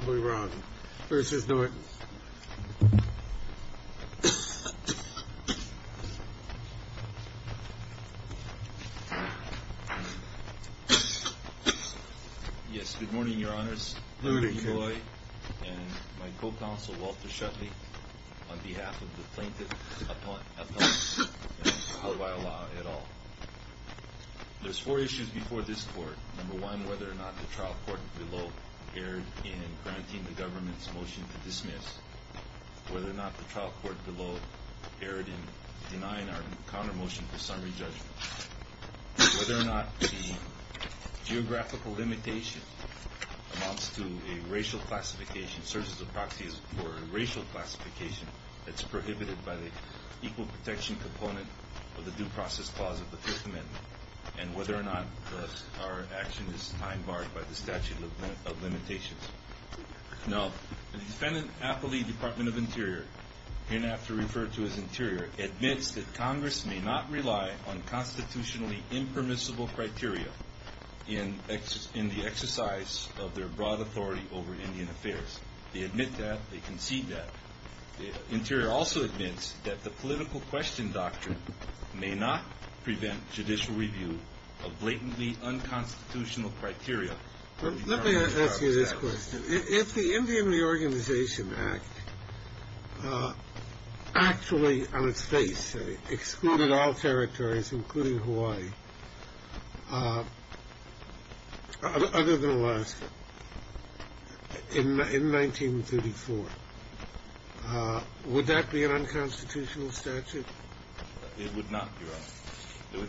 Yes, good morning, your honors, and my co-counsel, Walter Shetley, on behalf of the plaintiff, Apawaiolaa, et al. There's four issues before this court. Number one, whether or not the trial court below erred in granting the government's motion to dismiss, whether or not the trial court below erred in denying our counter-motion for summary judgment, whether or not the geographical limitation amounts to a racial classification, searches of proxies for a racial classification that's prohibited by the equal protection component of the due process clause of the Fifth Amendment, and whether or not our action is time-barred by the statute of limitations. Now, the defendant, Apawaiolaa, Department of Interior, hereafter referred to as Interior, admits that Congress may not rely on constitutionally impermissible criteria in the exercise of their broad authority over Indian affairs. They admit that, they concede that. Interior also admits that the political question doctrine may not prevent judicial review of blatantly unconstitutional criteria. Let me ask you this question. If the Indian Reorganization Act actually, on its face, excluded all territories, including Hawaii, other than Alaska, in 1934, would that be an unconstitutional statute? It would not, Your Honor.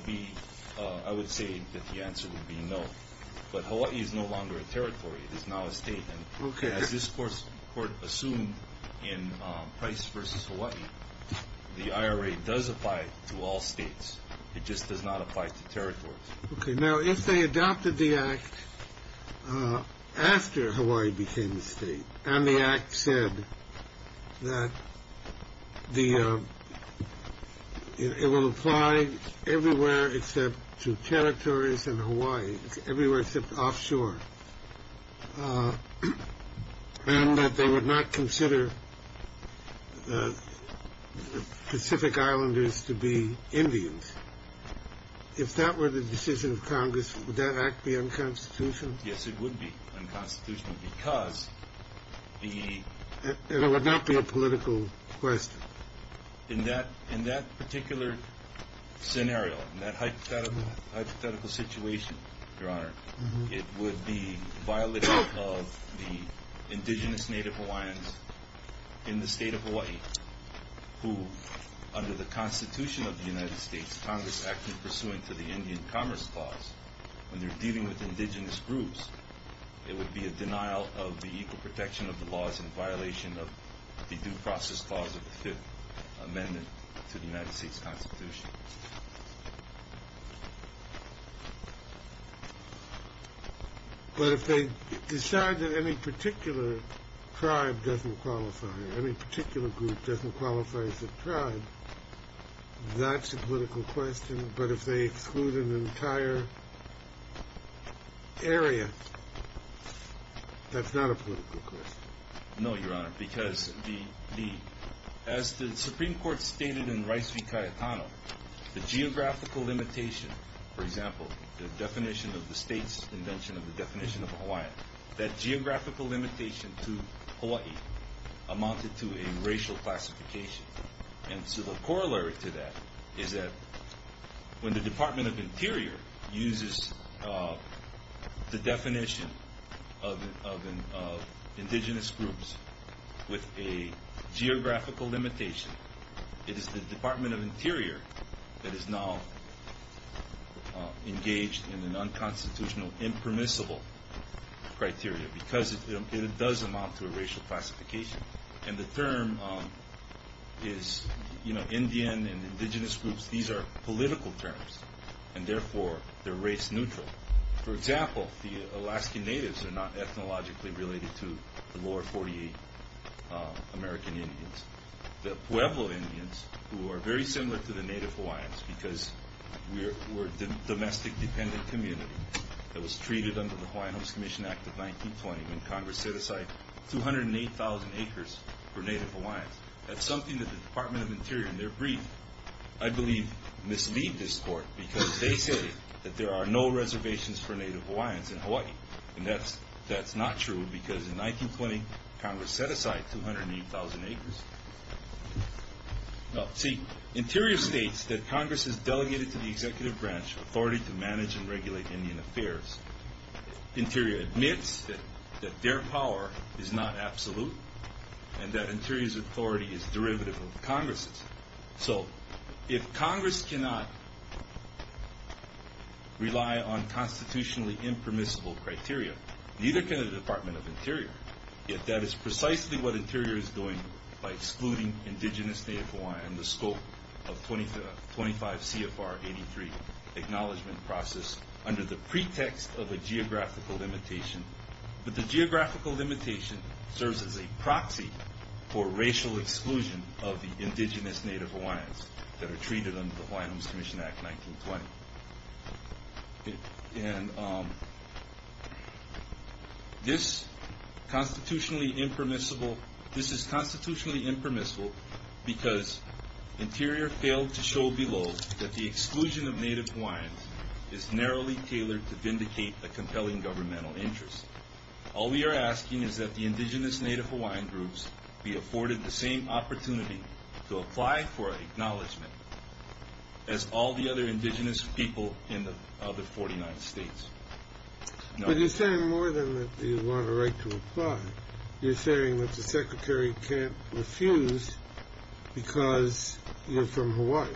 I would say that the answer would be no. But Hawaii is no longer a territory. It is now a state. Okay. As this Court assumed in Price v. Hawaii, the IRA does apply to all states. It just does not apply to territories. Okay. Now, if they adopted the Act after Hawaii became a state, and the Act said that it will apply everywhere except to territories in Hawaii, everywhere except offshore, and that they would not consider the Pacific Islanders to be Indians, if that were the decision of Congress, would that Act be unconstitutional? Yes, it would be unconstitutional because the... It would not be a political question. In that particular scenario, in that hypothetical situation, Your Honor, it would be violating of the indigenous Native Hawaiians in the state of Hawaii who, under the Constitution of the United States, Congress acted pursuant to the Indian Commerce Clause. When they're dealing with indigenous groups, it would be a denial of the equal protection of the laws in violation of the Due Process Clause of the Fifth Amendment to the United States Constitution. But if they decide that any particular tribe doesn't qualify, any particular group doesn't qualify as a tribe, that's a political question. But if they exclude an entire area, that's not a political question. No, Your Honor, because as the Supreme Court stated in Rice v. Cayetano, the geographical limitation, for example, the definition of the state's invention of the definition of a Hawaiian, that geographical limitation to Hawaii amounted to a racial classification. And so the corollary to that is that when the Department of Interior uses the definition of indigenous groups with a geographical limitation, it is the Department of Interior that is now engaged in an unconstitutional, impermissible criteria because it does amount to a racial classification. And the term is, you know, Indian and indigenous groups, these are political terms, and therefore they're race neutral. For example, the Alaskan Natives are not ethnologically related to the lower 48 American Indians. The Pueblo Indians, who are very similar to the Native Hawaiians because we're a domestic dependent community, that was treated under the Hawaiian Homes Commission Act of 1920 when Congress set aside 208,000 acres for Native Hawaiians. That's something that the Department of Interior in their brief, I believe, mislead this Court because they say that there are no reservations for Native Hawaiians in Hawaii. And that's not true because in 1920, Congress set aside 208,000 acres. See, Interior states that Congress has delegated to the executive branch authority to manage and regulate Indian affairs. Interior admits that their power is not absolute and that Interior's authority is derivative of Congress's. So if Congress cannot rely on constitutionally impermissible criteria, neither can the Department of Interior. Yet that is precisely what Interior is doing by excluding indigenous Native Hawaiian and the scope of 25 CFR 83 acknowledgement process under the pretext of a geographical limitation. But the geographical limitation serves as a proxy for racial exclusion of the indigenous Native Hawaiians that are treated under the Hawaiian Homes Commission Act 1920. And this is constitutionally impermissible because Interior failed to show below that the exclusion of Native Hawaiians is narrowly tailored to vindicate a compelling governmental interest. All we are asking is that the indigenous Native Hawaiian groups be afforded the same opportunity to apply for acknowledgement as all the other indigenous people in the other 49 states. But you're saying more than that you want a right to apply. You're saying that the Secretary can't refuse because you're from Hawaii.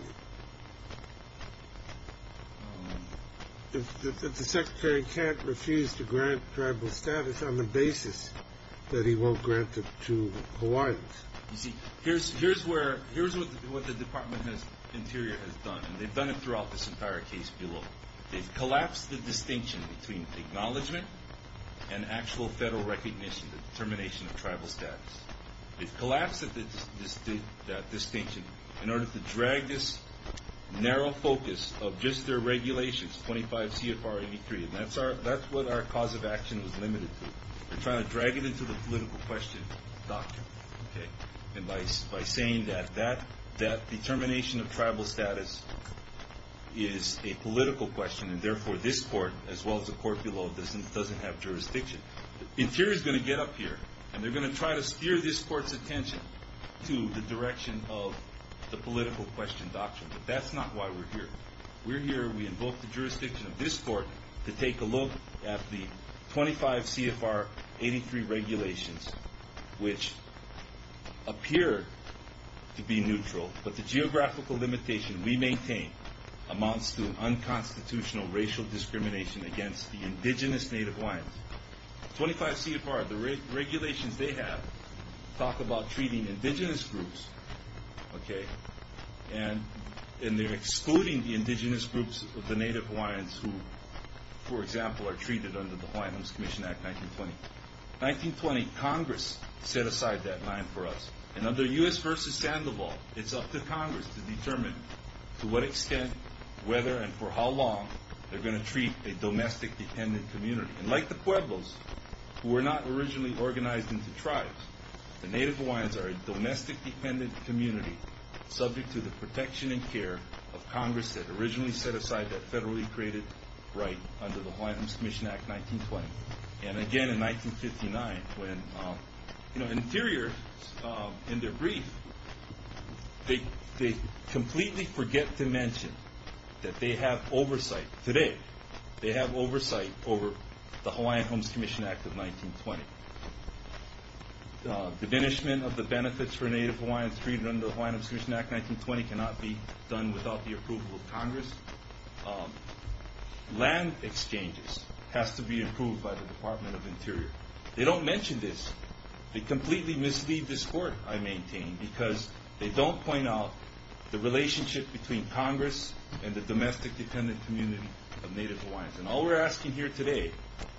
That the Secretary can't refuse to grant tribal status on the basis that he won't grant it to Hawaiians. You see, here's what the Department of Interior has done. And they've done it throughout this entire case below. They've collapsed the distinction between acknowledgement and actual federal recognition, the determination of tribal status. They've collapsed that distinction in order to drag this narrow focus of just their regulations, 25 CFR 83. And that's what our cause of action was limited to. We're trying to drag it into the political question doctrine. And by saying that that determination of tribal status is a political question and therefore this court, as well as the court below, doesn't have jurisdiction. Interior's going to get up here and they're going to try to steer this court's attention to the direction of the political question doctrine. But that's not why we're here. We're here, we invoke the jurisdiction of this court to take a look at the 25 CFR 83 regulations, which appear to be neutral, but the geographical limitation we maintain amounts to unconstitutional racial discrimination against the indigenous Native Hawaiians. 25 CFR, the regulations they have talk about treating indigenous groups, okay, and they're excluding the indigenous groups of the Native Hawaiians who, for example, are treated under the Hawaiians Commission Act 1920. 1920, Congress set aside that line for us. And under U.S. versus Sandoval, it's up to Congress to determine to what extent, whether, and for how long they're going to treat a domestic dependent community. And like the Pueblos, who were not originally organized into tribes, the Native Hawaiians are a domestic dependent community, subject to the protection and care of Congress that originally set aside that federally created right under the Hawaiians Commission Act 1920. And again, in 1959, when Interior, in their brief, they completely forget to mention that they have oversight. Today, they have oversight over the Hawaiian Homes Commission Act of 1920. The diminishment of the benefits for Native Hawaiians treated under the Hawaiian Homes Commission Act 1920 cannot be done without the approval of Congress. Land exchanges has to be approved by the Department of Interior. They don't mention this. They completely mislead this Court, I maintain, because they don't point out the relationship between Congress and the domestic dependent community of Native Hawaiians. And all we're asking here today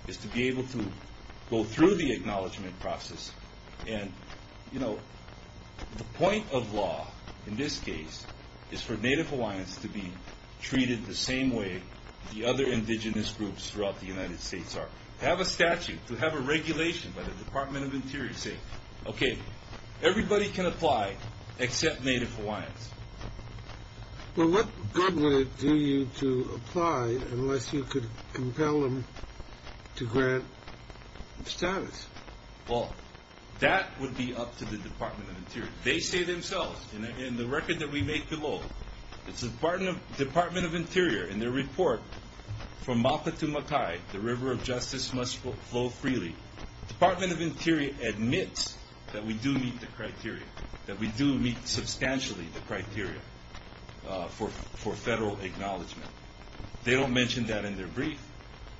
is to be able to go through the acknowledgement process. And, you know, the point of law, in this case, is for Native Hawaiians to be treated the same way the other indigenous groups throughout the United States are. To have a statute, to have a regulation by the Department of Interior saying, okay, everybody can apply except Native Hawaiians. Well, what good would it do you to apply unless you could compel them to grant status? Well, that would be up to the Department of Interior. They say themselves, in the record that we make below, the Department of Interior, in their report, from Mapa to Makai, the river of justice must flow freely. The Department of Interior admits that we do meet the criteria, that we do meet substantially the criteria for federal acknowledgement. They don't mention that in their brief.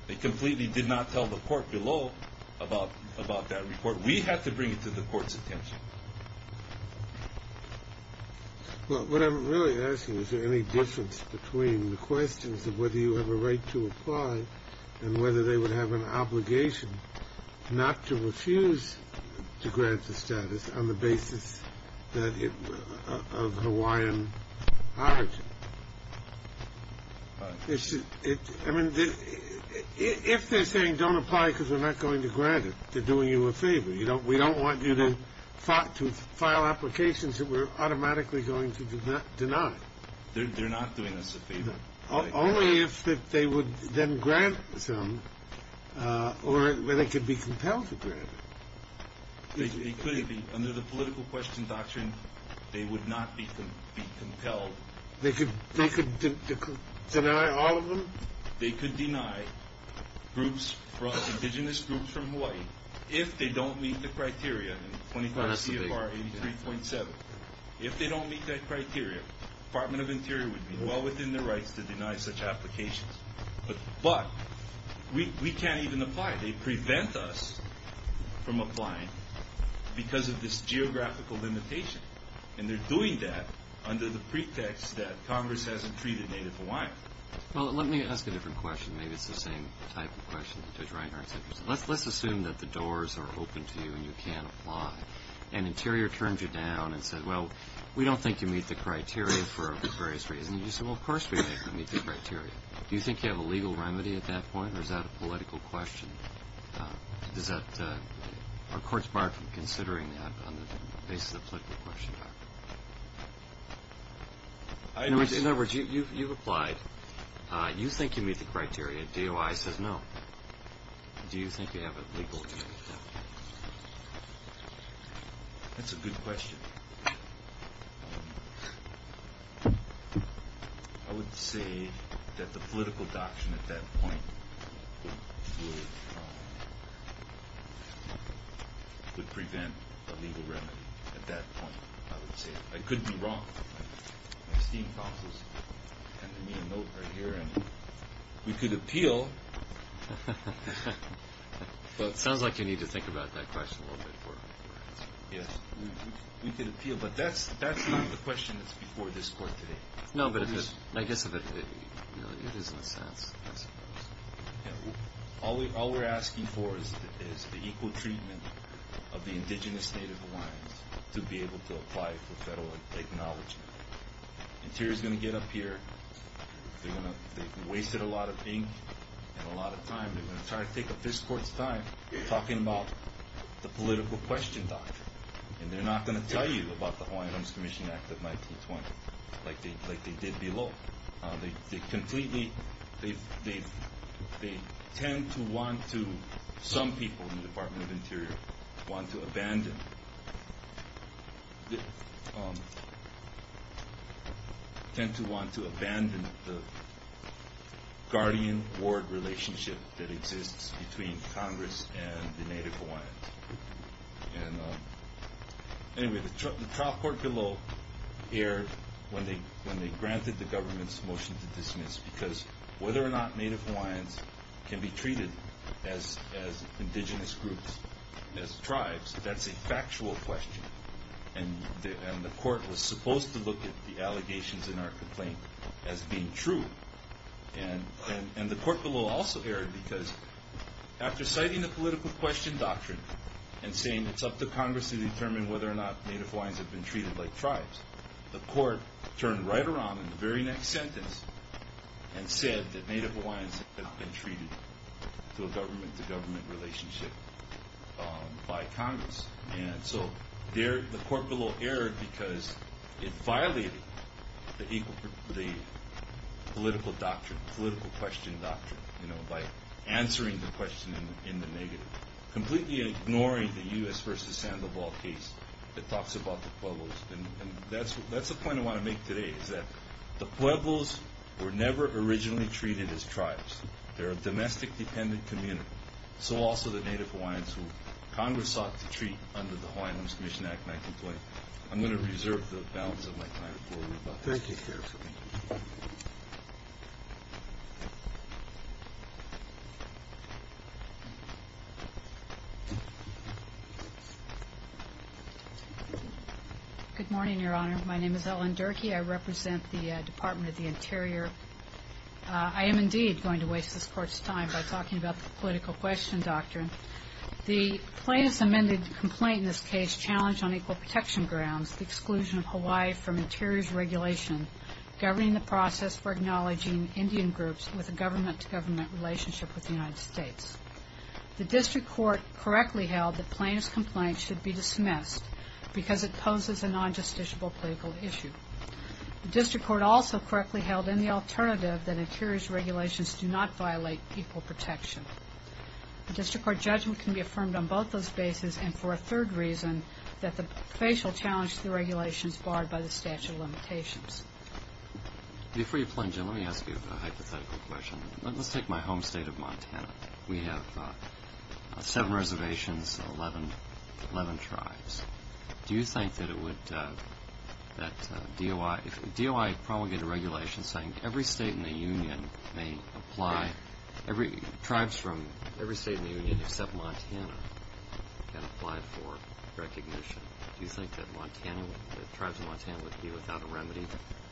They completely did not tell the Court below about that report. We have to bring it to the Court's attention. Well, what I'm really asking is, is there any difference between the questions of whether you have a right to apply and whether they would have an obligation not to refuse to grant the status on the basis of Hawaiian origin? I mean, if they're saying don't apply because we're not going to grant it, they're doing you a favor. We don't want you to file applications that we're automatically going to deny. They're not doing us a favor. Only if they would then grant some, or they could be compelled to grant it. They could be. Under the political question doctrine, they would not be compelled. They could deny all of them? They could deny groups, indigenous groups from Hawaii, if they don't meet the criteria in 24 CFR 83.7. If they don't meet that criteria, the Department of Interior would be well within their rights to deny such applications. But we can't even apply. They prevent us from applying because of this geographical limitation, and they're doing that under the pretext that Congress hasn't treated native Hawaiian. Well, let me ask a different question. Maybe it's the same type of question that Judge Reinhart's interested in. Let's assume that the doors are open to you and you can apply, and Interior turns you down and says, well, we don't think you meet the criteria for various reasons. And you say, well, of course we think you meet the criteria. Do you think you have a legal remedy at that point, or is that a political question? Are courts barred from considering that on the basis of the political question doctrine? In other words, you've applied. You think you meet the criteria. DOI says no. Do you think you have a legal remedy? That's a good question. I would say that the political doctrine at that point would prevent a legal remedy. At that point, I would say it. I could be wrong. My esteemed counsel has handed me a note right here, and we could appeal. Well, it sounds like you need to think about that question a little bit more. Yes, we could appeal, but that's not the question that's before this court today. No, but I guess it is in a sense. All we're asking for is the equal treatment of the indigenous Native Hawaiians to be able to apply for federal acknowledgment. Interior is going to get up here. They've wasted a lot of ink and a lot of time. They're going to try to take up this court's time talking about the political question doctrine, and they're not going to tell you about the Hawaiians Commission Act of 1920 like they did below. Some people in the Department of Interior tend to want to abandon the guardian-ward relationship that exists between Congress and the Native Hawaiians. Anyway, the trial court below erred when they granted the government's motion to dismiss because whether or not Native Hawaiians can be treated as indigenous groups, as tribes, that's a factual question, and the court was supposed to look at the allegations in our complaint as being true. The court below also erred because after citing the political question doctrine and saying it's up to Congress to determine whether or not Native Hawaiians have been treated like tribes, the court turned right around in the very next sentence and said that Native Hawaiians have been treated to a government-to-government relationship by Congress. The court below erred because it violated the political question doctrine by answering the question in the negative, completely ignoring the U.S. v. Sandoval case that talks about the Pueblos. That's the point I want to make today is that the Pueblos were never originally treated as tribes. They're a domestic-dependent community. So also the Native Hawaiians who Congress sought to treat under the Hawaiian Women's Commission Act in my complaint. I'm going to reserve the balance of my time for rebuttals. Thank you. Good morning, Your Honor. My name is Ellen Durkee. I represent the Department of the Interior. I am indeed going to waste this court's time by talking about the political question doctrine. The plaintiff's amended complaint in this case challenged on equal protection grounds the exclusion of Hawaii from Interior's regulation governing the process for acknowledging Indian groups with a government-to-government relationship with the United States. The district court correctly held that plaintiff's complaint should be dismissed because it poses a non-justiciable political issue. The district court also correctly held in the alternative that Interior's regulations do not violate equal protection. The district court judgment can be affirmed on both those bases and for a third reason that the case will challenge the regulations barred by the statute of limitations. Before you plunge in, let me ask you a hypothetical question. Let's take my home state of Montana. We have seven reservations, 11 tribes. Do you think that DOI promulgated regulations saying every state in the Union may apply, tribes from every state in the Union except Montana can apply for recognition. Do you think that tribes in Montana would be without a remedy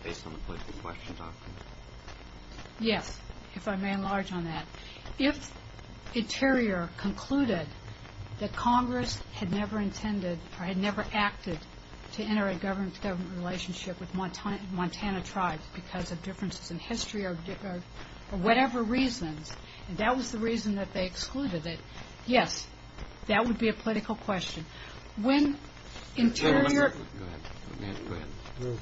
based on the political question doctrine? Yes, if I may enlarge on that. If Interior concluded that Congress had never intended or had never acted to enter a government-to-government relationship with Montana tribes because of differences in history or whatever reasons, and that was the reason that they excluded it, yes, that would be a political question. When Interior... Go ahead.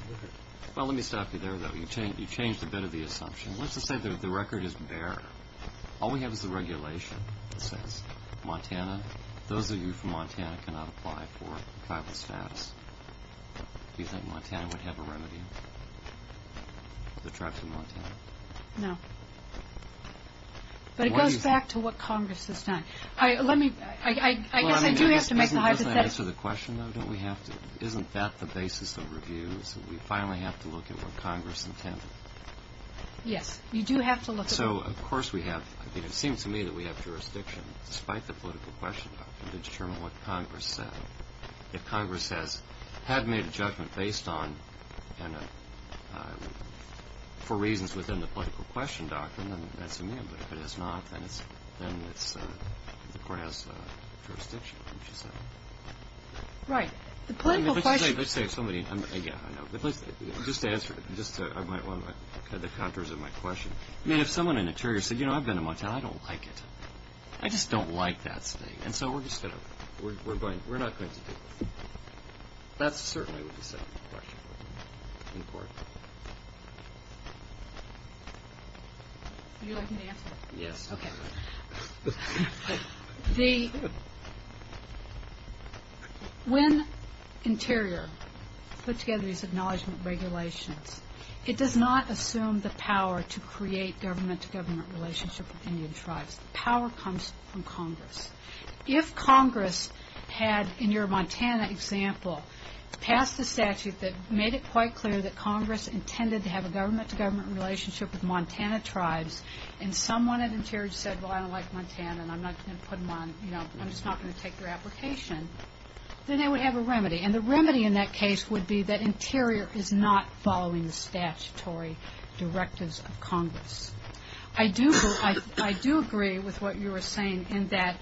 Well, let me stop you there, though. You changed a bit of the assumption. Let's just say that the record is bare. All we have is the regulation that says Montana, those of you from Montana cannot apply for tribal status. Do you think Montana would have a remedy? The tribes of Montana? No. But it goes back to what Congress has done. I guess I do have to make the hypothesis that... Well, doesn't that answer the question, though? Isn't that the basis of review, is that we finally have to look at what Congress intended? Yes, you do have to look at... So, of course we have... I mean, it seems to me that we have jurisdiction, despite the political question, to determine what Congress said. If Congress had made a judgment based on and for reasons within the political question doctrine, then that's amenable. If it has not, then the court has jurisdiction, as you say. Right. The political question... Let's say somebody... Just to answer the contours of my question. I mean, if someone in Interior said, you know, I've been to Montana, I don't like it. I just don't like that state. And so we're just going to... We're not going to do this. That's certainly what you said in the question. In court. You're asking the answer? Yes. Okay. The... When Interior put together these acknowledgment regulations, it does not assume the power to create government-to-government relationship with Indian tribes. The power comes from Congress. If Congress had, in your Montana example, passed a statute that made it quite clear that Congress intended to have a government-to-government relationship with Montana tribes, and someone at Interior said, well, I don't like Montana, and I'm not going to put them on, you know, I'm just not going to take their application, then they would have a remedy. And the remedy in that case would be that Interior is not following the statutory directives of Congress. I do agree with what you were saying in that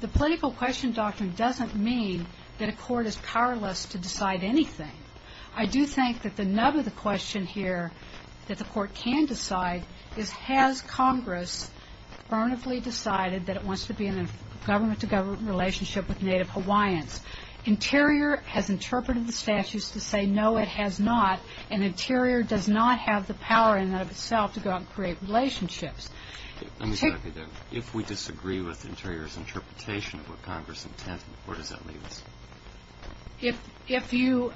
the political question doctrine doesn't mean that a court is powerless to decide anything. I do think that the nub of the question here that the court can decide is, has Congress earnestly decided that it wants to be in a government-to-government relationship with Native Hawaiians? Interior has interpreted the statutes to say, no, it has not, and Interior does not have the power in and of itself to go out and create relationships. If we disagree with Interior's interpretation of what Congress intended, where does that leave us? If you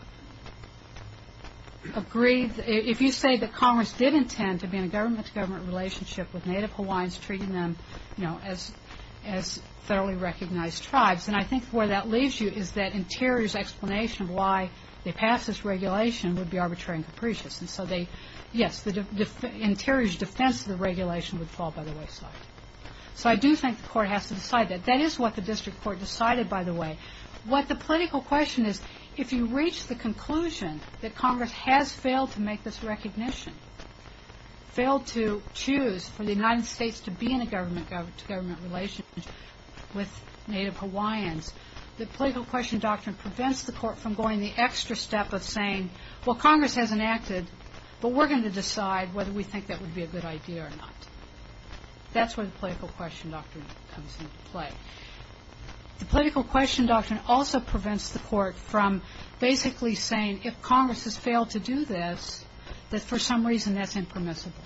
agree, if you say that Congress did intend to be in a government-to-government relationship with Native Hawaiians, treating them, you know, as thoroughly recognized tribes, then I think where that leaves you is that Interior's explanation of why they passed this regulation would be arbitrary and capricious, and so they, yes, Interior's defense of the regulation would fall by the wayside. So I do think the court has to decide that. That is what the district court decided, by the way. What the political question is, if you reach the conclusion that Congress has failed to make this recognition, failed to choose for the United States to be in a government-to-government relationship with Native Hawaiians, the political question doctrine prevents the court from going the extra step of saying, well, Congress has enacted, but we're going to decide whether we think that would be a good idea or not. That's where the political question doctrine comes into play. The political question doctrine also prevents the court from basically saying, if Congress has failed to do this, that for some reason that's impermissible.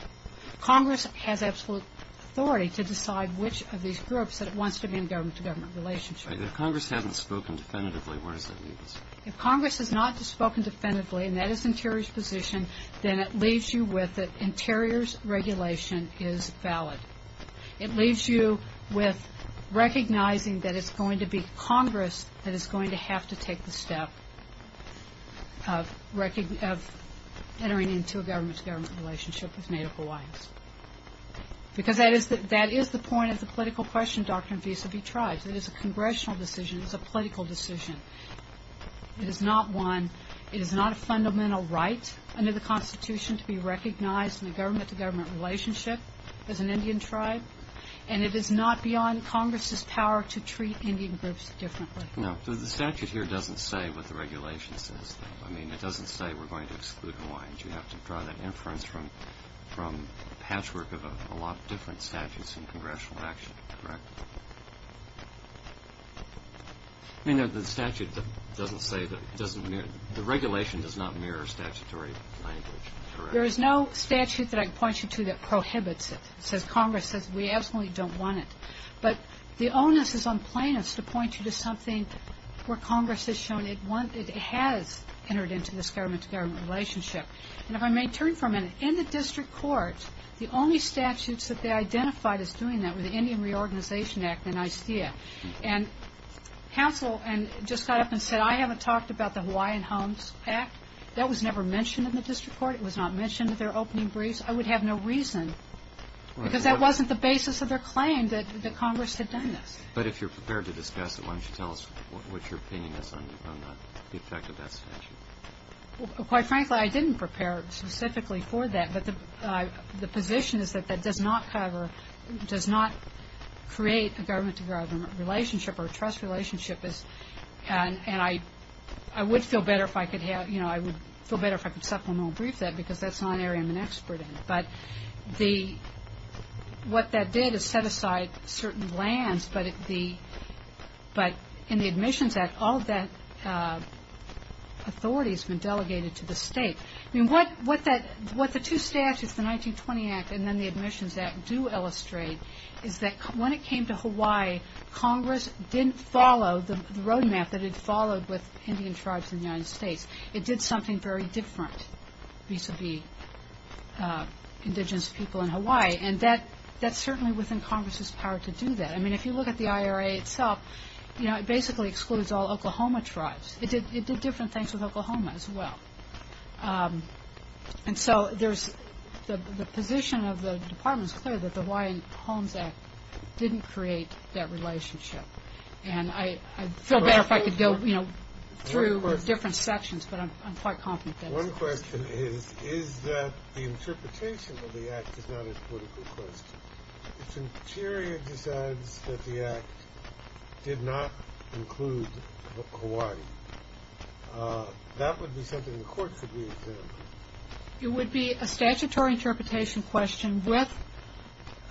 Congress has absolute authority to decide which of these groups that it wants to be in a government-to-government relationship with. If Congress hasn't spoken definitively, where does that leave us? If Congress has not spoken definitively, and that is Interior's position, then it leaves you with that Interior's regulation is valid. It leaves you with recognizing that it's going to be Congress that is going to have to take the step of entering into a government-to-government relationship with Native Hawaiians. Because that is the point of the political question doctrine vis-a-vis tribes. It is a congressional decision. It is a political decision. It is not a fundamental right under the Constitution to be recognized in a government-to-government relationship as an Indian tribe. And it is not beyond Congress's power to treat Indian groups differently. No. The statute here doesn't say what the regulation says, though. I mean, it doesn't say we're going to exclude Hawaiians. You have to draw that inference from patchwork of a lot of different statutes in congressional action, correct? I mean, the statute doesn't say that it doesn't mirror the regulation does not mirror statutory language, correct? There is no statute that I can point you to that prohibits it. It says Congress says we absolutely don't want it. But the onus is on plaintiffs to point you to something where Congress has shown it has entered into this government-to-government relationship. And if I may turn for a minute, in the district court, the only statutes that they identified as doing that were the Indian Reorganization Act and ICEA. And counsel just got up and said, I haven't talked about the Hawaiian Homes Act. That was never mentioned in the district court. It was not mentioned in their opening briefs. I would have no reason, because that wasn't the basis of their claim that Congress had done this. But if you're prepared to discuss it, why don't you tell us what your opinion is on the effect of that statute? Quite frankly, I didn't prepare specifically for that. But the position is that that does not cover, does not create a government-to-government relationship or a trust relationship. And I would feel better if I could supplemental brief that, because that's not an area I'm an expert in. But what that did is set aside certain lands. But in the Admissions Act, all of that authority has been delegated to the state. What the two statutes, the 1920 Act and then the Admissions Act, do illustrate is that when it came to Hawaii, Congress didn't follow the road map that it followed with Indian tribes in the United States. It did something very different vis-a-vis indigenous people in Hawaii. And that's certainly within Congress's power to do that. I mean, if you look at the IRA itself, you know, it basically excludes all Oklahoma tribes. It did different things with Oklahoma as well. And so there's the position of the Department is clear that the Hawaiian Homes Act didn't create that relationship. And I feel better if I could go, you know, through different sections, but I'm quite confident that it's not. One question is, is that the interpretation of the Act is not a political question. If Interior decides that the Act did not include Hawaii, that would be something the Court should be examining. It would be a statutory interpretation question with,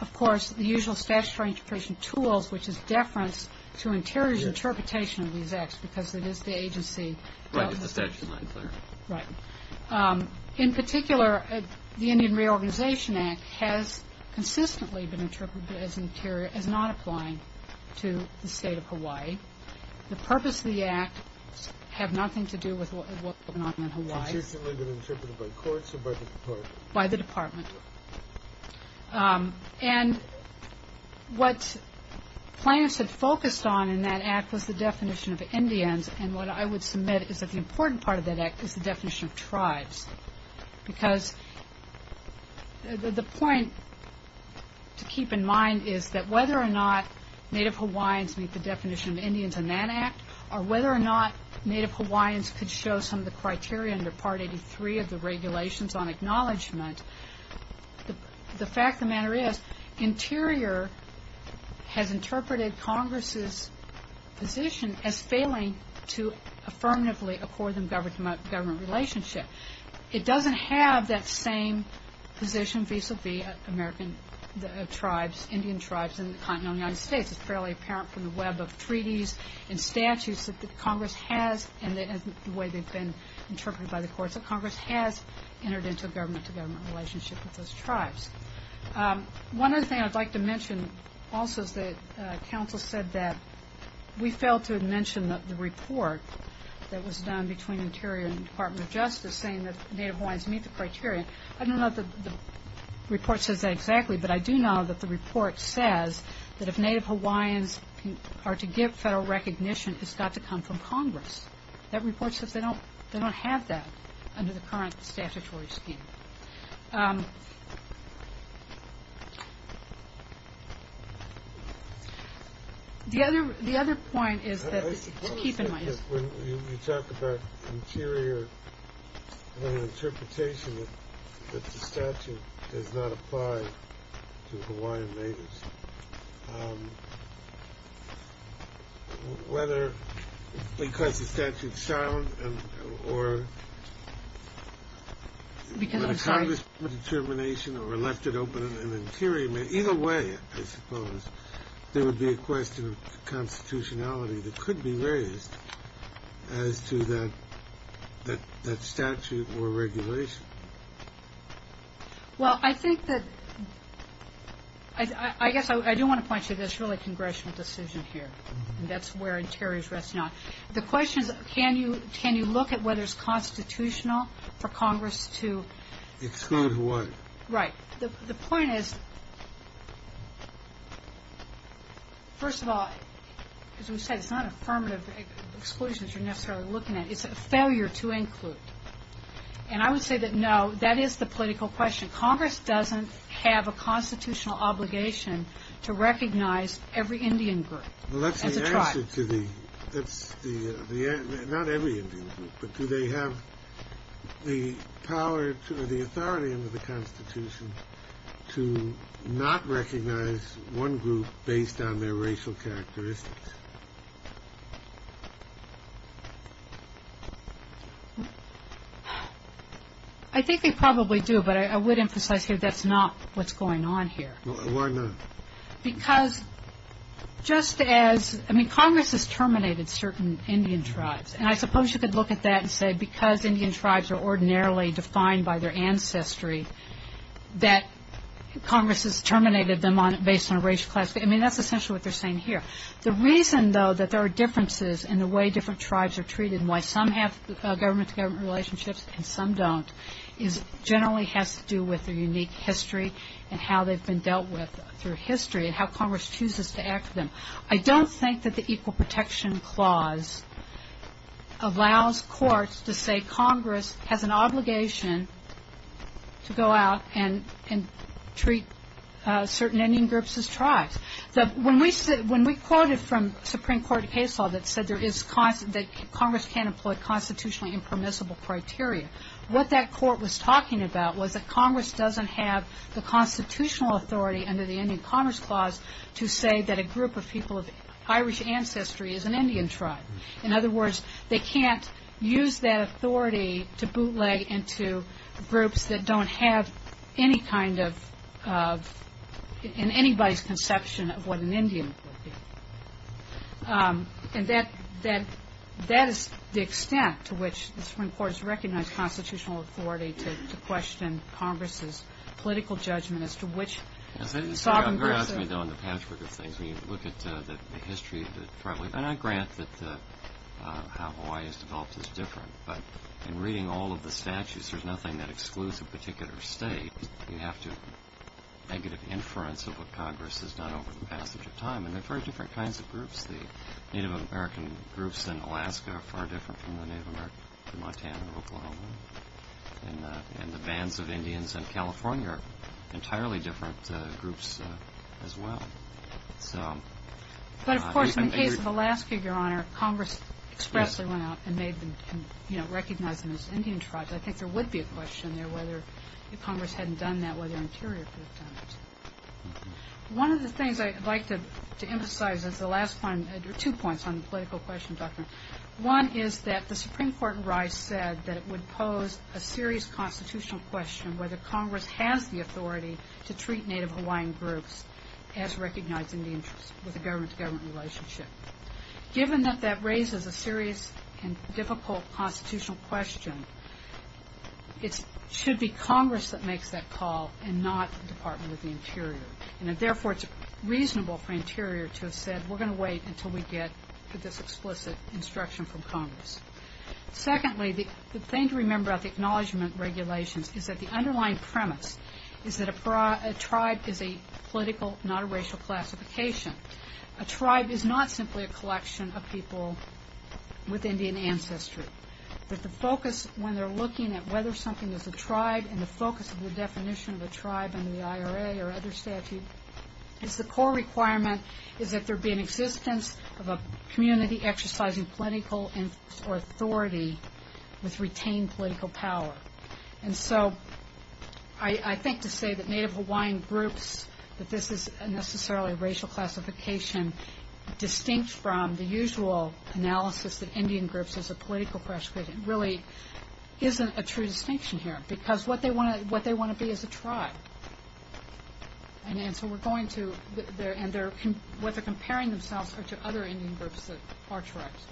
of course, the usual statutory interpretation tools, which is deference to Interior's interpretation of these Acts, because it is the agency. Right. In particular, the Indian Reorganization Act has consistently been interpreted as not applying to the state of Hawaii. The purpose of the Act has nothing to do with what's going on in Hawaii. Consistently been interpreted by courts or by the Department? By the Department. And what plaintiffs had focused on in that Act was the definition of Indians, and what I would submit is that the important part of that Act is the definition of tribes. Because the point to keep in mind is that whether or not Native Hawaiians meet the definition of Indians in that Act, or whether or not Native Hawaiians could show some of the criteria under Part 83 of the Regulations on Acknowledgement, the fact of the matter is Interior has interpreted Congress's position as failing to affirmatively accord them government relationship. It doesn't have that same position vis-à-vis American tribes, Indian tribes in the continental United States. It's fairly apparent from the web of treaties and statutes that Congress has, and the way they've been interpreted by the courts, that Congress has entered into a government-to-government relationship with those tribes. One other thing I'd like to mention also is that counsel said that we failed to mention the report that was done between Interior and the Department of Justice saying that Native Hawaiians meet the criteria. I don't know if the report says that exactly, but I do know that the report says that if Native Hawaiians are to give federal recognition, it's got to come from Congress. That report says they don't have that under the current statutory scheme. The other point is that— I suppose that when you talk about Interior, an interpretation that the statute does not apply to Hawaiian natives, whether because the statute's sound or— When Congress made a determination or left it open in Interior, either way, I suppose, there would be a question of constitutionality that could be raised as to that statute or regulation. Well, I think that—I guess I do want to point to this really congressional decision here, and that's where Interior's resting on. The question is, can you look at whether it's constitutional for Congress to— Exclude what? Right. The point is, first of all, as we said, it's not affirmative exclusions you're necessarily looking at. It's a failure to include. And I would say that, no, that is the political question. Congress doesn't have a constitutional obligation to recognize every Indian group as a tribe. Well, that's the answer to the— Not every Indian group, but do they have the power or the authority under the Constitution to not recognize one group based on their racial characteristics? I think they probably do, but I would emphasize here that's not what's going on here. Why not? Because just as—I mean, Congress has terminated certain Indian tribes, and I suppose you could look at that and say because Indian tribes are ordinarily defined by their ancestry that Congress has terminated them based on racial class. I mean, that's essentially what they're saying here. The reason, though, that there are differences in the way different tribes are treated and why some have government-to-government relationships and some don't generally has to do with their unique history and how they've been dealt with through history and how Congress chooses to act for them. I don't think that the Equal Protection Clause allows courts to say Congress has an obligation to go out and treat certain Indian groups as tribes. When we quoted from Supreme Court case law that said there is— that Congress can't employ constitutionally impermissible criteria, what that court was talking about was that Congress doesn't have the constitutional authority under the Indian Commerce Clause to say that a group of people of Irish ancestry is an Indian tribe. In other words, they can't use that authority to bootleg into groups that don't have any kind of— in anybody's conception of what an Indian would be. And that is the extent to which the Supreme Court has recognized constitutional authority to question Congress's political judgment as to which sovereign person— You asked me, though, in the patchwork of things, when you look at the history of the tribal— and I grant that how Hawaii is developed is different. But in reading all of the statutes, there's nothing that excludes a particular state. You have to—negative inference of what Congress has done over the passage of time. And they're very different kinds of groups. The Native American groups in Alaska are far different from the Native American in Montana and Oklahoma. And the bands of Indians in California are entirely different groups as well. But, of course, in the case of Alaska, Your Honor, Congress expressly went out and made them—recognized them as Indian tribes. I think there would be a question there whether if Congress hadn't done that, whether Interior could have done it. One of the things I'd like to emphasize is the last point— two points on the political question, Dr. Moore. One is that the Supreme Court in Rice said that it would pose a serious constitutional question whether Congress has the authority to treat Native Hawaiian groups as recognizing the interests with a government-to-government relationship. Given that that raises a serious and difficult constitutional question, it should be Congress that makes that call and not the Department of the Interior. And, therefore, it's reasonable for Interior to have said, we're going to wait until we get this explicit instruction from Congress. Secondly, the thing to remember about the acknowledgment regulations is that the underlying premise is that a tribe is a political, not a racial, classification. A tribe is not simply a collection of people with Indian ancestry. But the focus when they're looking at whether something is a tribe and the focus of the definition of a tribe under the IRA or other statute, is the core requirement is that there be an existence of a community exercising political or authority with retained political power. And so I think to say that Native Hawaiian groups, that this is necessarily a racial classification, distinct from the usual analysis of Indian groups as a political classification, really isn't a true distinction here. Because what they want to be is a tribe. And so we're going to, and what they're comparing themselves to are other Indian groups that are tribes.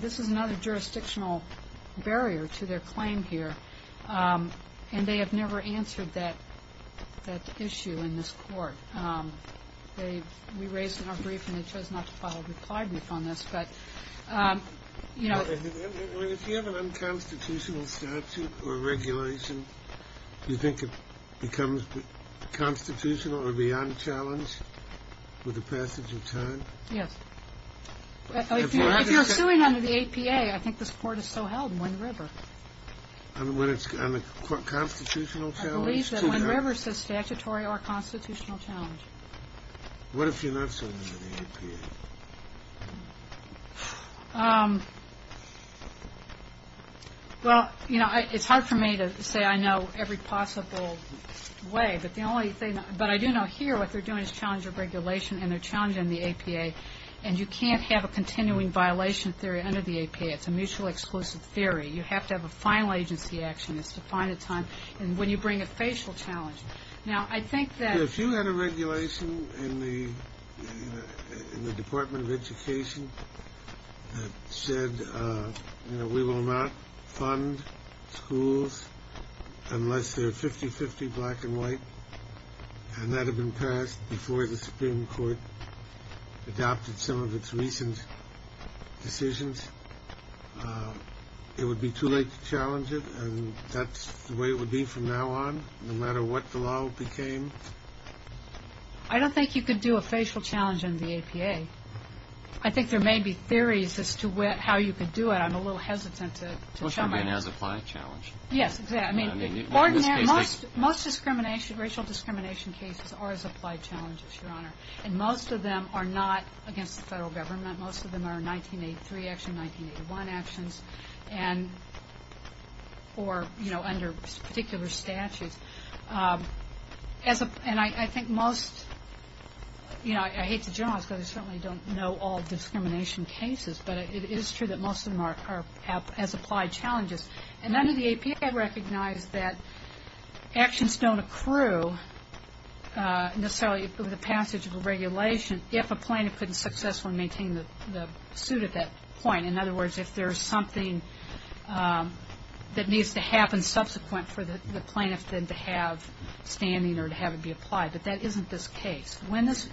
This is another jurisdictional barrier to their claim here. And they have never answered that issue in this court. We raised it in our briefing. They chose not to file a reply brief on this. But, you know. If you have an unconstitutional statute or regulation, do you think it becomes constitutional or beyond challenge with the passage of time? Yes. If you're suing under the APA, I think this court is so held in Wind River. On the constitutional challenge? I believe that Wind River says statutory or constitutional challenge. What if you're not suing under the APA? Well, you know, it's hard for me to say I know every possible way. But the only thing, but I do know here what they're doing is challenging regulation and they're challenging the APA. And you can't have a continuing violation theory under the APA. It's a mutually exclusive theory. You have to have a final agency action. It's to find a time when you bring a facial challenge. Now, I think that if you had a regulation in the Department of Education that said, you know, we will not fund schools unless they're 50-50 black and white, and that had been passed before the Supreme Court adopted some of its recent decisions, it would be too late to challenge it. And that's the way it would be from now on, no matter what the law became. I don't think you could do a facial challenge under the APA. I think there may be theories as to how you could do it. I'm a little hesitant to jump in. It must be an as-applied challenge. Yes, exactly. I mean, most racial discrimination cases are as-applied challenges, Your Honor, and most of them are not against the federal government. Most of them are 1983 action, 1981 actions, or, you know, under particular statutes. And I think most, you know, I hate to generalize because I certainly don't know all discrimination cases, but it is true that most of them are as-applied challenges. And under the APA, I recognize that actions don't accrue necessarily with the passage of a regulation if a plaintiff couldn't successfully maintain the suit at that point. In other words, if there's something that needs to happen subsequent for the plaintiff then to have standing or to have it be applied, but that isn't this case. When this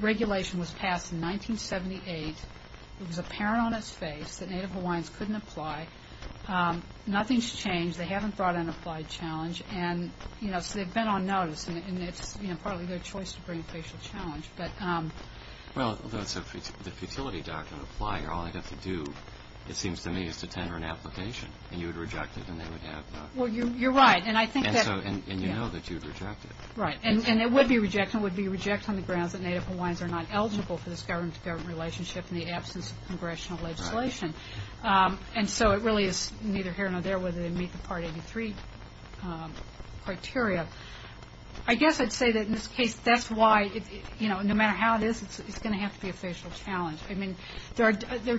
regulation was passed in 1978, it was apparent on its face that Native Hawaiians couldn't apply. Nothing's changed. They haven't brought an applied challenge. And, you know, so they've been on notice. And it's, you know, probably their choice to bring a facial challenge. Well, so the futility doctrine of applying or all they got to do, it seems to me, is to tender an application. And you would reject it and they would have not. Well, you're right. And I think that, yeah. And you know that you'd reject it. Right. And it would be a rejection. It would be a rejection on the grounds that Native Hawaiians are not eligible for this government-to-government relationship in the absence of congressional legislation. Right. And so it really is neither here nor there whether they meet the Part 83 criteria. I guess I'd say that in this case that's why, you know, no matter how it is, it's going to have to be a facial challenge. I mean, there are...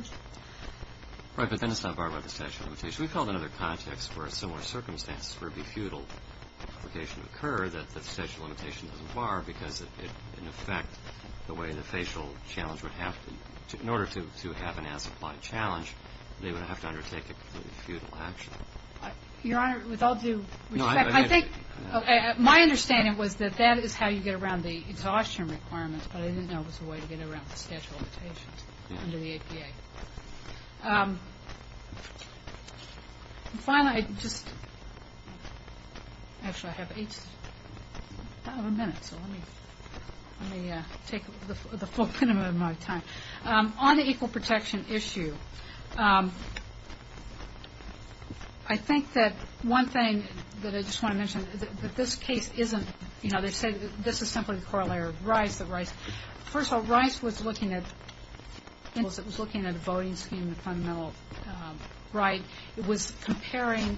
Right, but then it's not barred by the statute of limitations. We've held another context where similar circumstances where it would be futile application occur that the statute of limitations doesn't bar because, in effect, the way the facial challenge would have to... In order to have an as-applied challenge, they would have to undertake a completely futile action. Your Honor, with all due respect... No, I... I think... My understanding was that that is how you get around the exhaustion requirements, but I didn't know it was a way to get around the statute of limitations under the APA. Yeah. And finally, I just... Actually, I have eight minutes, so let me take the full minimum of my time. On the equal protection issue, I think that one thing that I just want to mention is that this case isn't... You know, they say this is simply a corollary of Rice. First of all, Rice was looking at the voting scheme, the fundamental right. It was comparing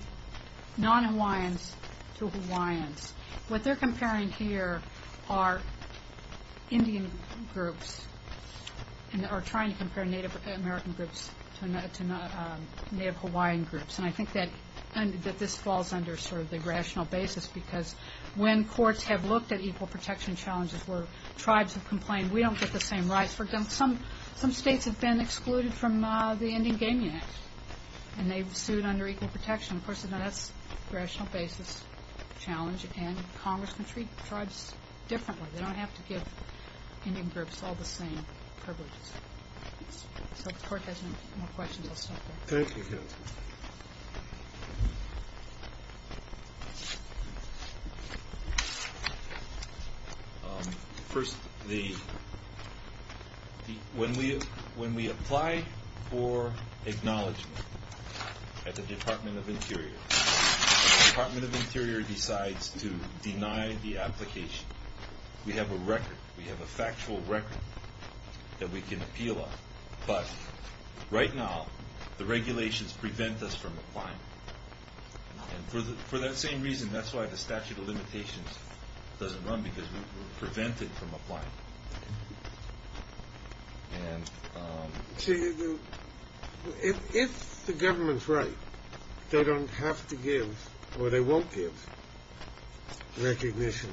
non-Hawaiians to Hawaiians. What they're comparing here are Indian groups, and are trying to compare Native American groups to Native Hawaiian groups, and I think that this falls under sort of the rational basis because when courts have looked at equal protection challenges where tribes have complained, we don't get the same rights for them. Some states have been excluded from the Indian Gaming Act, and they've sued under equal protection. Of course, that's a rational basis challenge, and Congress can treat tribes differently. They don't have to give Indian groups all the same privileges. So if the Court has no more questions, I'll stop there. Thank you. First, when we apply for acknowledgment at the Department of Interior, the Department of Interior decides to deny the application. We have a record. We have a factual record that we can appeal on. But right now, the regulations prevent us from applying, and for that same reason, that's why the statute of limitations doesn't run, because we're prevented from applying. If the government's right, they don't have to give, or they won't give, recognition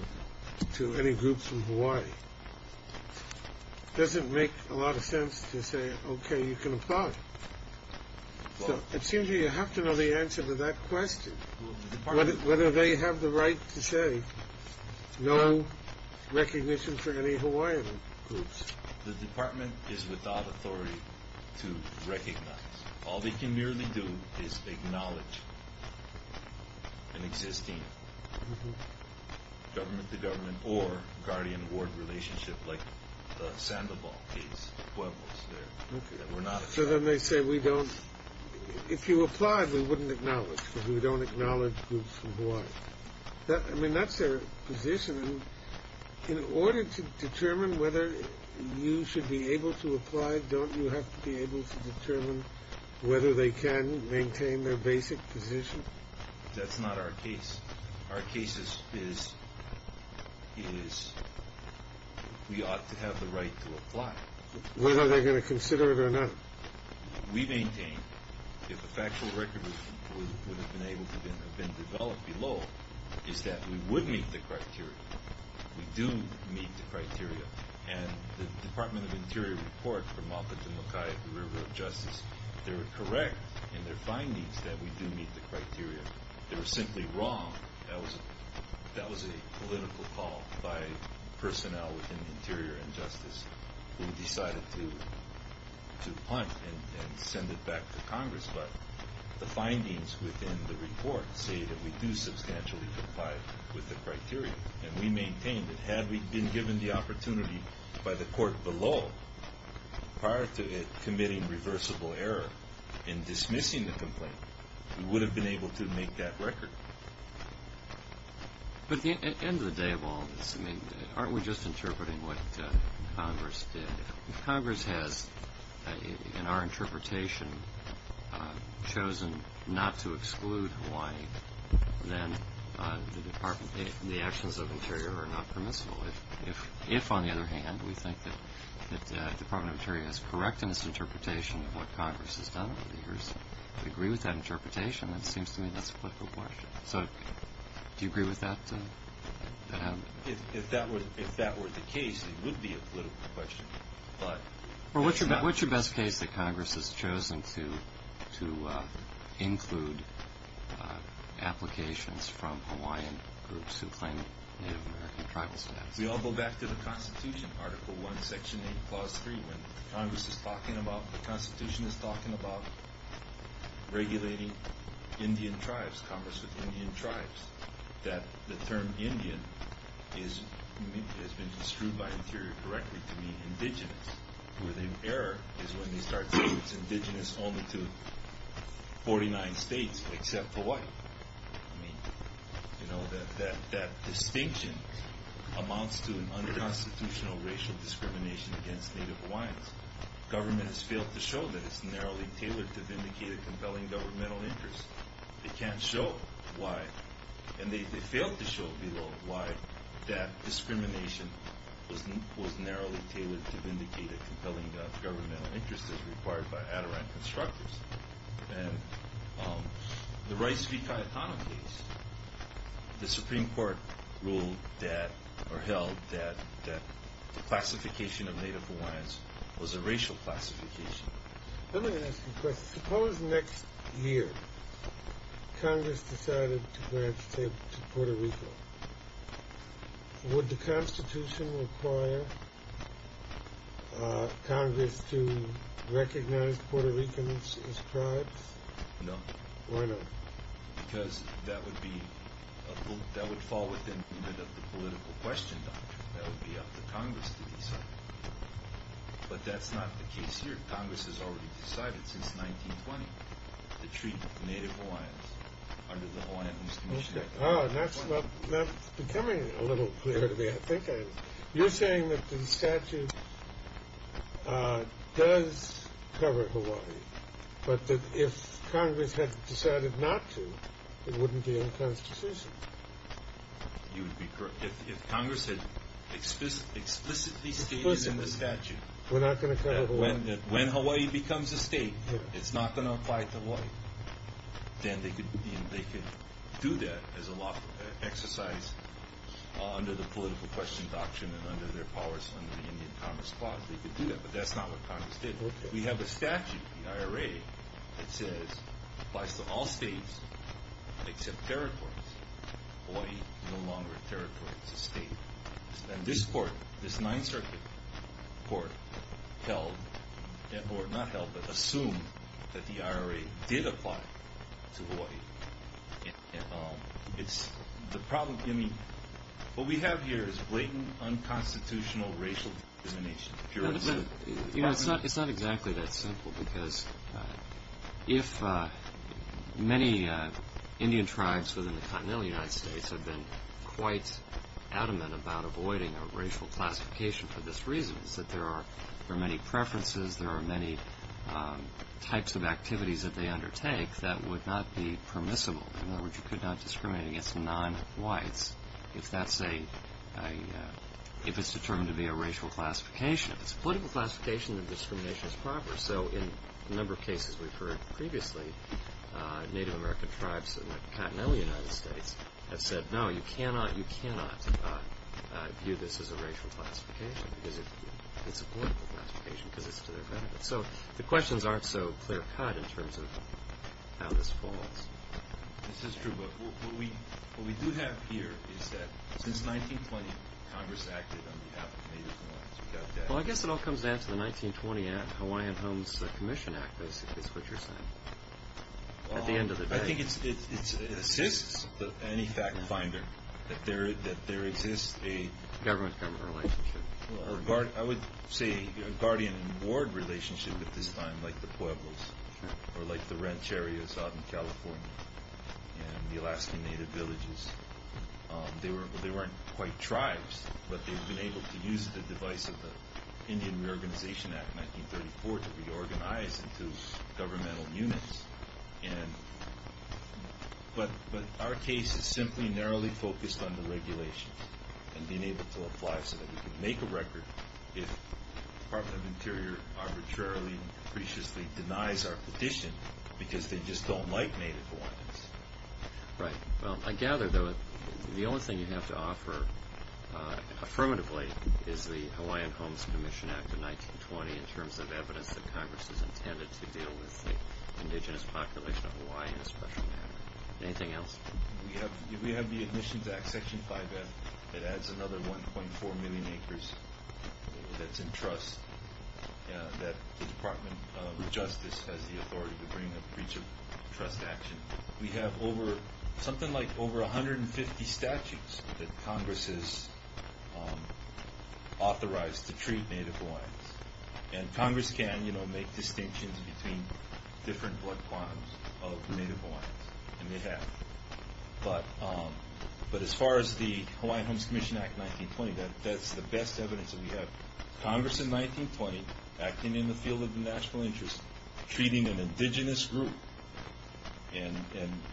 to any group from Hawaii, it doesn't make a lot of sense to say, okay, you can apply. It seems you have to know the answer to that question, whether they have the right to say no recognition for any Hawaiian groups. The department is without authority to recognize. All they can merely do is acknowledge an existing government-to-government or guardian-ward relationship like the Sandoval case, Pueblos. So then they say, if you apply, we wouldn't acknowledge, because we don't acknowledge groups from Hawaii. I mean, that's their position. In order to determine whether you should be able to apply, don't you have to be able to determine whether they can maintain their basic position? That's not our case. Our case is we ought to have the right to apply. Whether they're going to consider it or not. We maintain, if a factual record would have been able to have been developed below, is that we would meet the criteria. We do meet the criteria, and the Department of Interior report from Alpha to Makai at the River of Justice, they were correct in their findings that we do meet the criteria. They were simply wrong. That was a political call by personnel within the Interior and Justice who decided to punt and send it back to Congress. But the findings within the report say that we do substantially comply with the criteria, and we maintain that had we been given the opportunity by the court below, prior to it committing reversible error in dismissing the complaint, we would have been able to make that record. But at the end of the day of all this, aren't we just interpreting what Congress did? If Congress has, in our interpretation, chosen not to exclude Hawaii, then the actions of Interior are not permissible. If, on the other hand, we think that the Department of Interior is correct in its interpretation of what Congress has done over the years, we agree with that interpretation, then it seems to me that's a political question. So do you agree with that? If that were the case, it would be a political question. Well, what's your best case that Congress has chosen to include applications from Hawaiian groups who claim Native American tribal status? We all go back to the Constitution, Article I, Section 8, Clause 3, when the Constitution is talking about regulating Indian tribes, commerce with Indian tribes, that the term Indian has been disproved by Interior correctly to mean indigenous, where the error is when they start saying it's indigenous only to 49 states except Hawaii. I mean, you know, that distinction amounts to an unconstitutional racial discrimination against Native Hawaiians. Government has failed to show that it's narrowly tailored to vindicate a compelling governmental interest. They can't show why. And they failed to show why that discrimination was narrowly tailored to vindicate a compelling governmental interest as required by Adirondack Constructors. And the Rice v. Cayetano case, the Supreme Court ruled that or held that the classification of Native Hawaiians was a racial classification. Let me ask you a question. Suppose next year Congress decided to grant statehood to Puerto Rico. Would the Constitution require Congress to recognize Puerto Ricans as tribes? No. Why not? Because that would fall within the political question, Doctor. That would be up to Congress to decide. But that's not the case here. Congress has already decided since 1920 to treat Native Hawaiians under the Hawaiians commission. Ah, that's becoming a little clearer to me, I think. You're saying that the statute does cover Hawaii, but that if Congress had decided not to, it wouldn't be in the Constitution. You would be correct. If Congress had explicitly stated in the statute that when Hawaii becomes a state, it's not going to apply to Hawaii, then they could do that as a law exercise under the political question doctrine and under their powers under the Indian Commerce Clause. They could do that, but that's not what Congress did. We have a statute in the IRA that says it applies to all states except territories. Hawaii is no longer a territory, it's a state. And this court, this Ninth Circuit court, assumed that the IRA did apply to Hawaii. What we have here is blatant, unconstitutional racial discrimination. It's not exactly that simple, because if many Indian tribes within the continental United States have been quite adamant about avoiding a racial classification for this reason, it's that there are many preferences, there are many types of activities that they undertake that would not be permissible. In other words, you could not discriminate against non-whites if it's determined to be a racial classification. If it's a political classification, then discrimination is proper. So in a number of cases we've heard previously, Native American tribes in the continental United States have said, no, you cannot view this as a racial classification, because it's a political classification, because it's to their benefit. So the questions aren't so clear-cut in terms of how this falls. This is true, but what we do have here is that since 1920, Congress acted on behalf of Native Americans. Well, I guess it all comes down to the 1920 Hawaiian Homes Commission Act, is what you're saying, at the end of the day. I think it assists any fact-finder that there exists a... Government-government relationship. I would say a guardian-ward relationship at this time, like the Pueblos, or like the ranch areas out in California and the Alaskan Native villages. They weren't quite tribes, but they've been able to use the device of the Indian Reorganization Act of 1934 to reorganize into governmental units. But our case is simply narrowly focused on the regulations and being able to apply so that we can make a record if the Department of the Interior arbitrarily, preciously denies our petition because they just don't like Native Hawaiians. Right. Well, I gather, though, the only thing you have to offer, affirmatively, is the Hawaiian Homes Commission Act of 1920 in terms of evidence that Congress has intended to deal with the indigenous population of Hawaii in a special manner. Anything else? We have the Admissions Act, Section 5F. It adds another 1.4 million acres that's in trust that the Department of Justice has the authority to bring a breach of trust action. We have something like over 150 statutes that Congress has authorized to treat Native Hawaiians. And Congress can make distinctions between different blood clans of Native Hawaiians, and they have. But as far as the Hawaiian Homes Commission Act of 1920, that's the best evidence that we have. Congress in 1920, acting in the field of the national interest, treating an indigenous group, and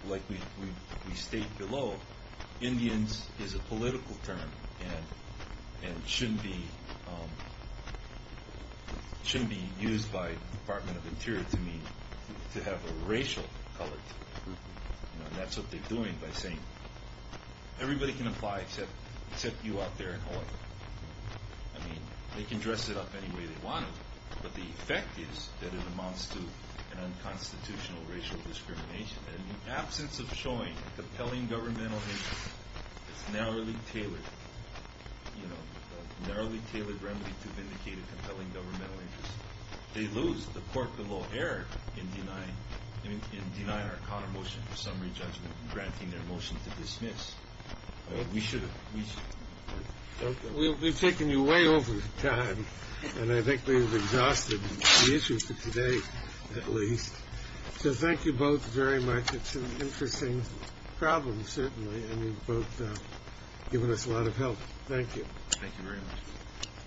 like we state below, Indians is a political term and shouldn't be used by the Department of the Interior to mean to have a racial color to the group. And that's what they're doing by saying, everybody can apply except you out there in Hawaii. I mean, they can dress it up any way they want to, but the effect is that it amounts to an unconstitutional racial discrimination. And in the absence of showing a compelling governmental interest that's narrowly tailored, you know, a narrowly tailored remedy to vindicate a compelling governmental interest, they lose the corporeal error in denying our counter motion for summary judgment and granting their motion to dismiss. We should have. We've taken you way over time, and I think we've exhausted the issue for today at least. So thank you both very much. It's an interesting problem, certainly, and you've both given us a lot of help. Thank you. Thank you very much. Thank you. Thank you. Thank you.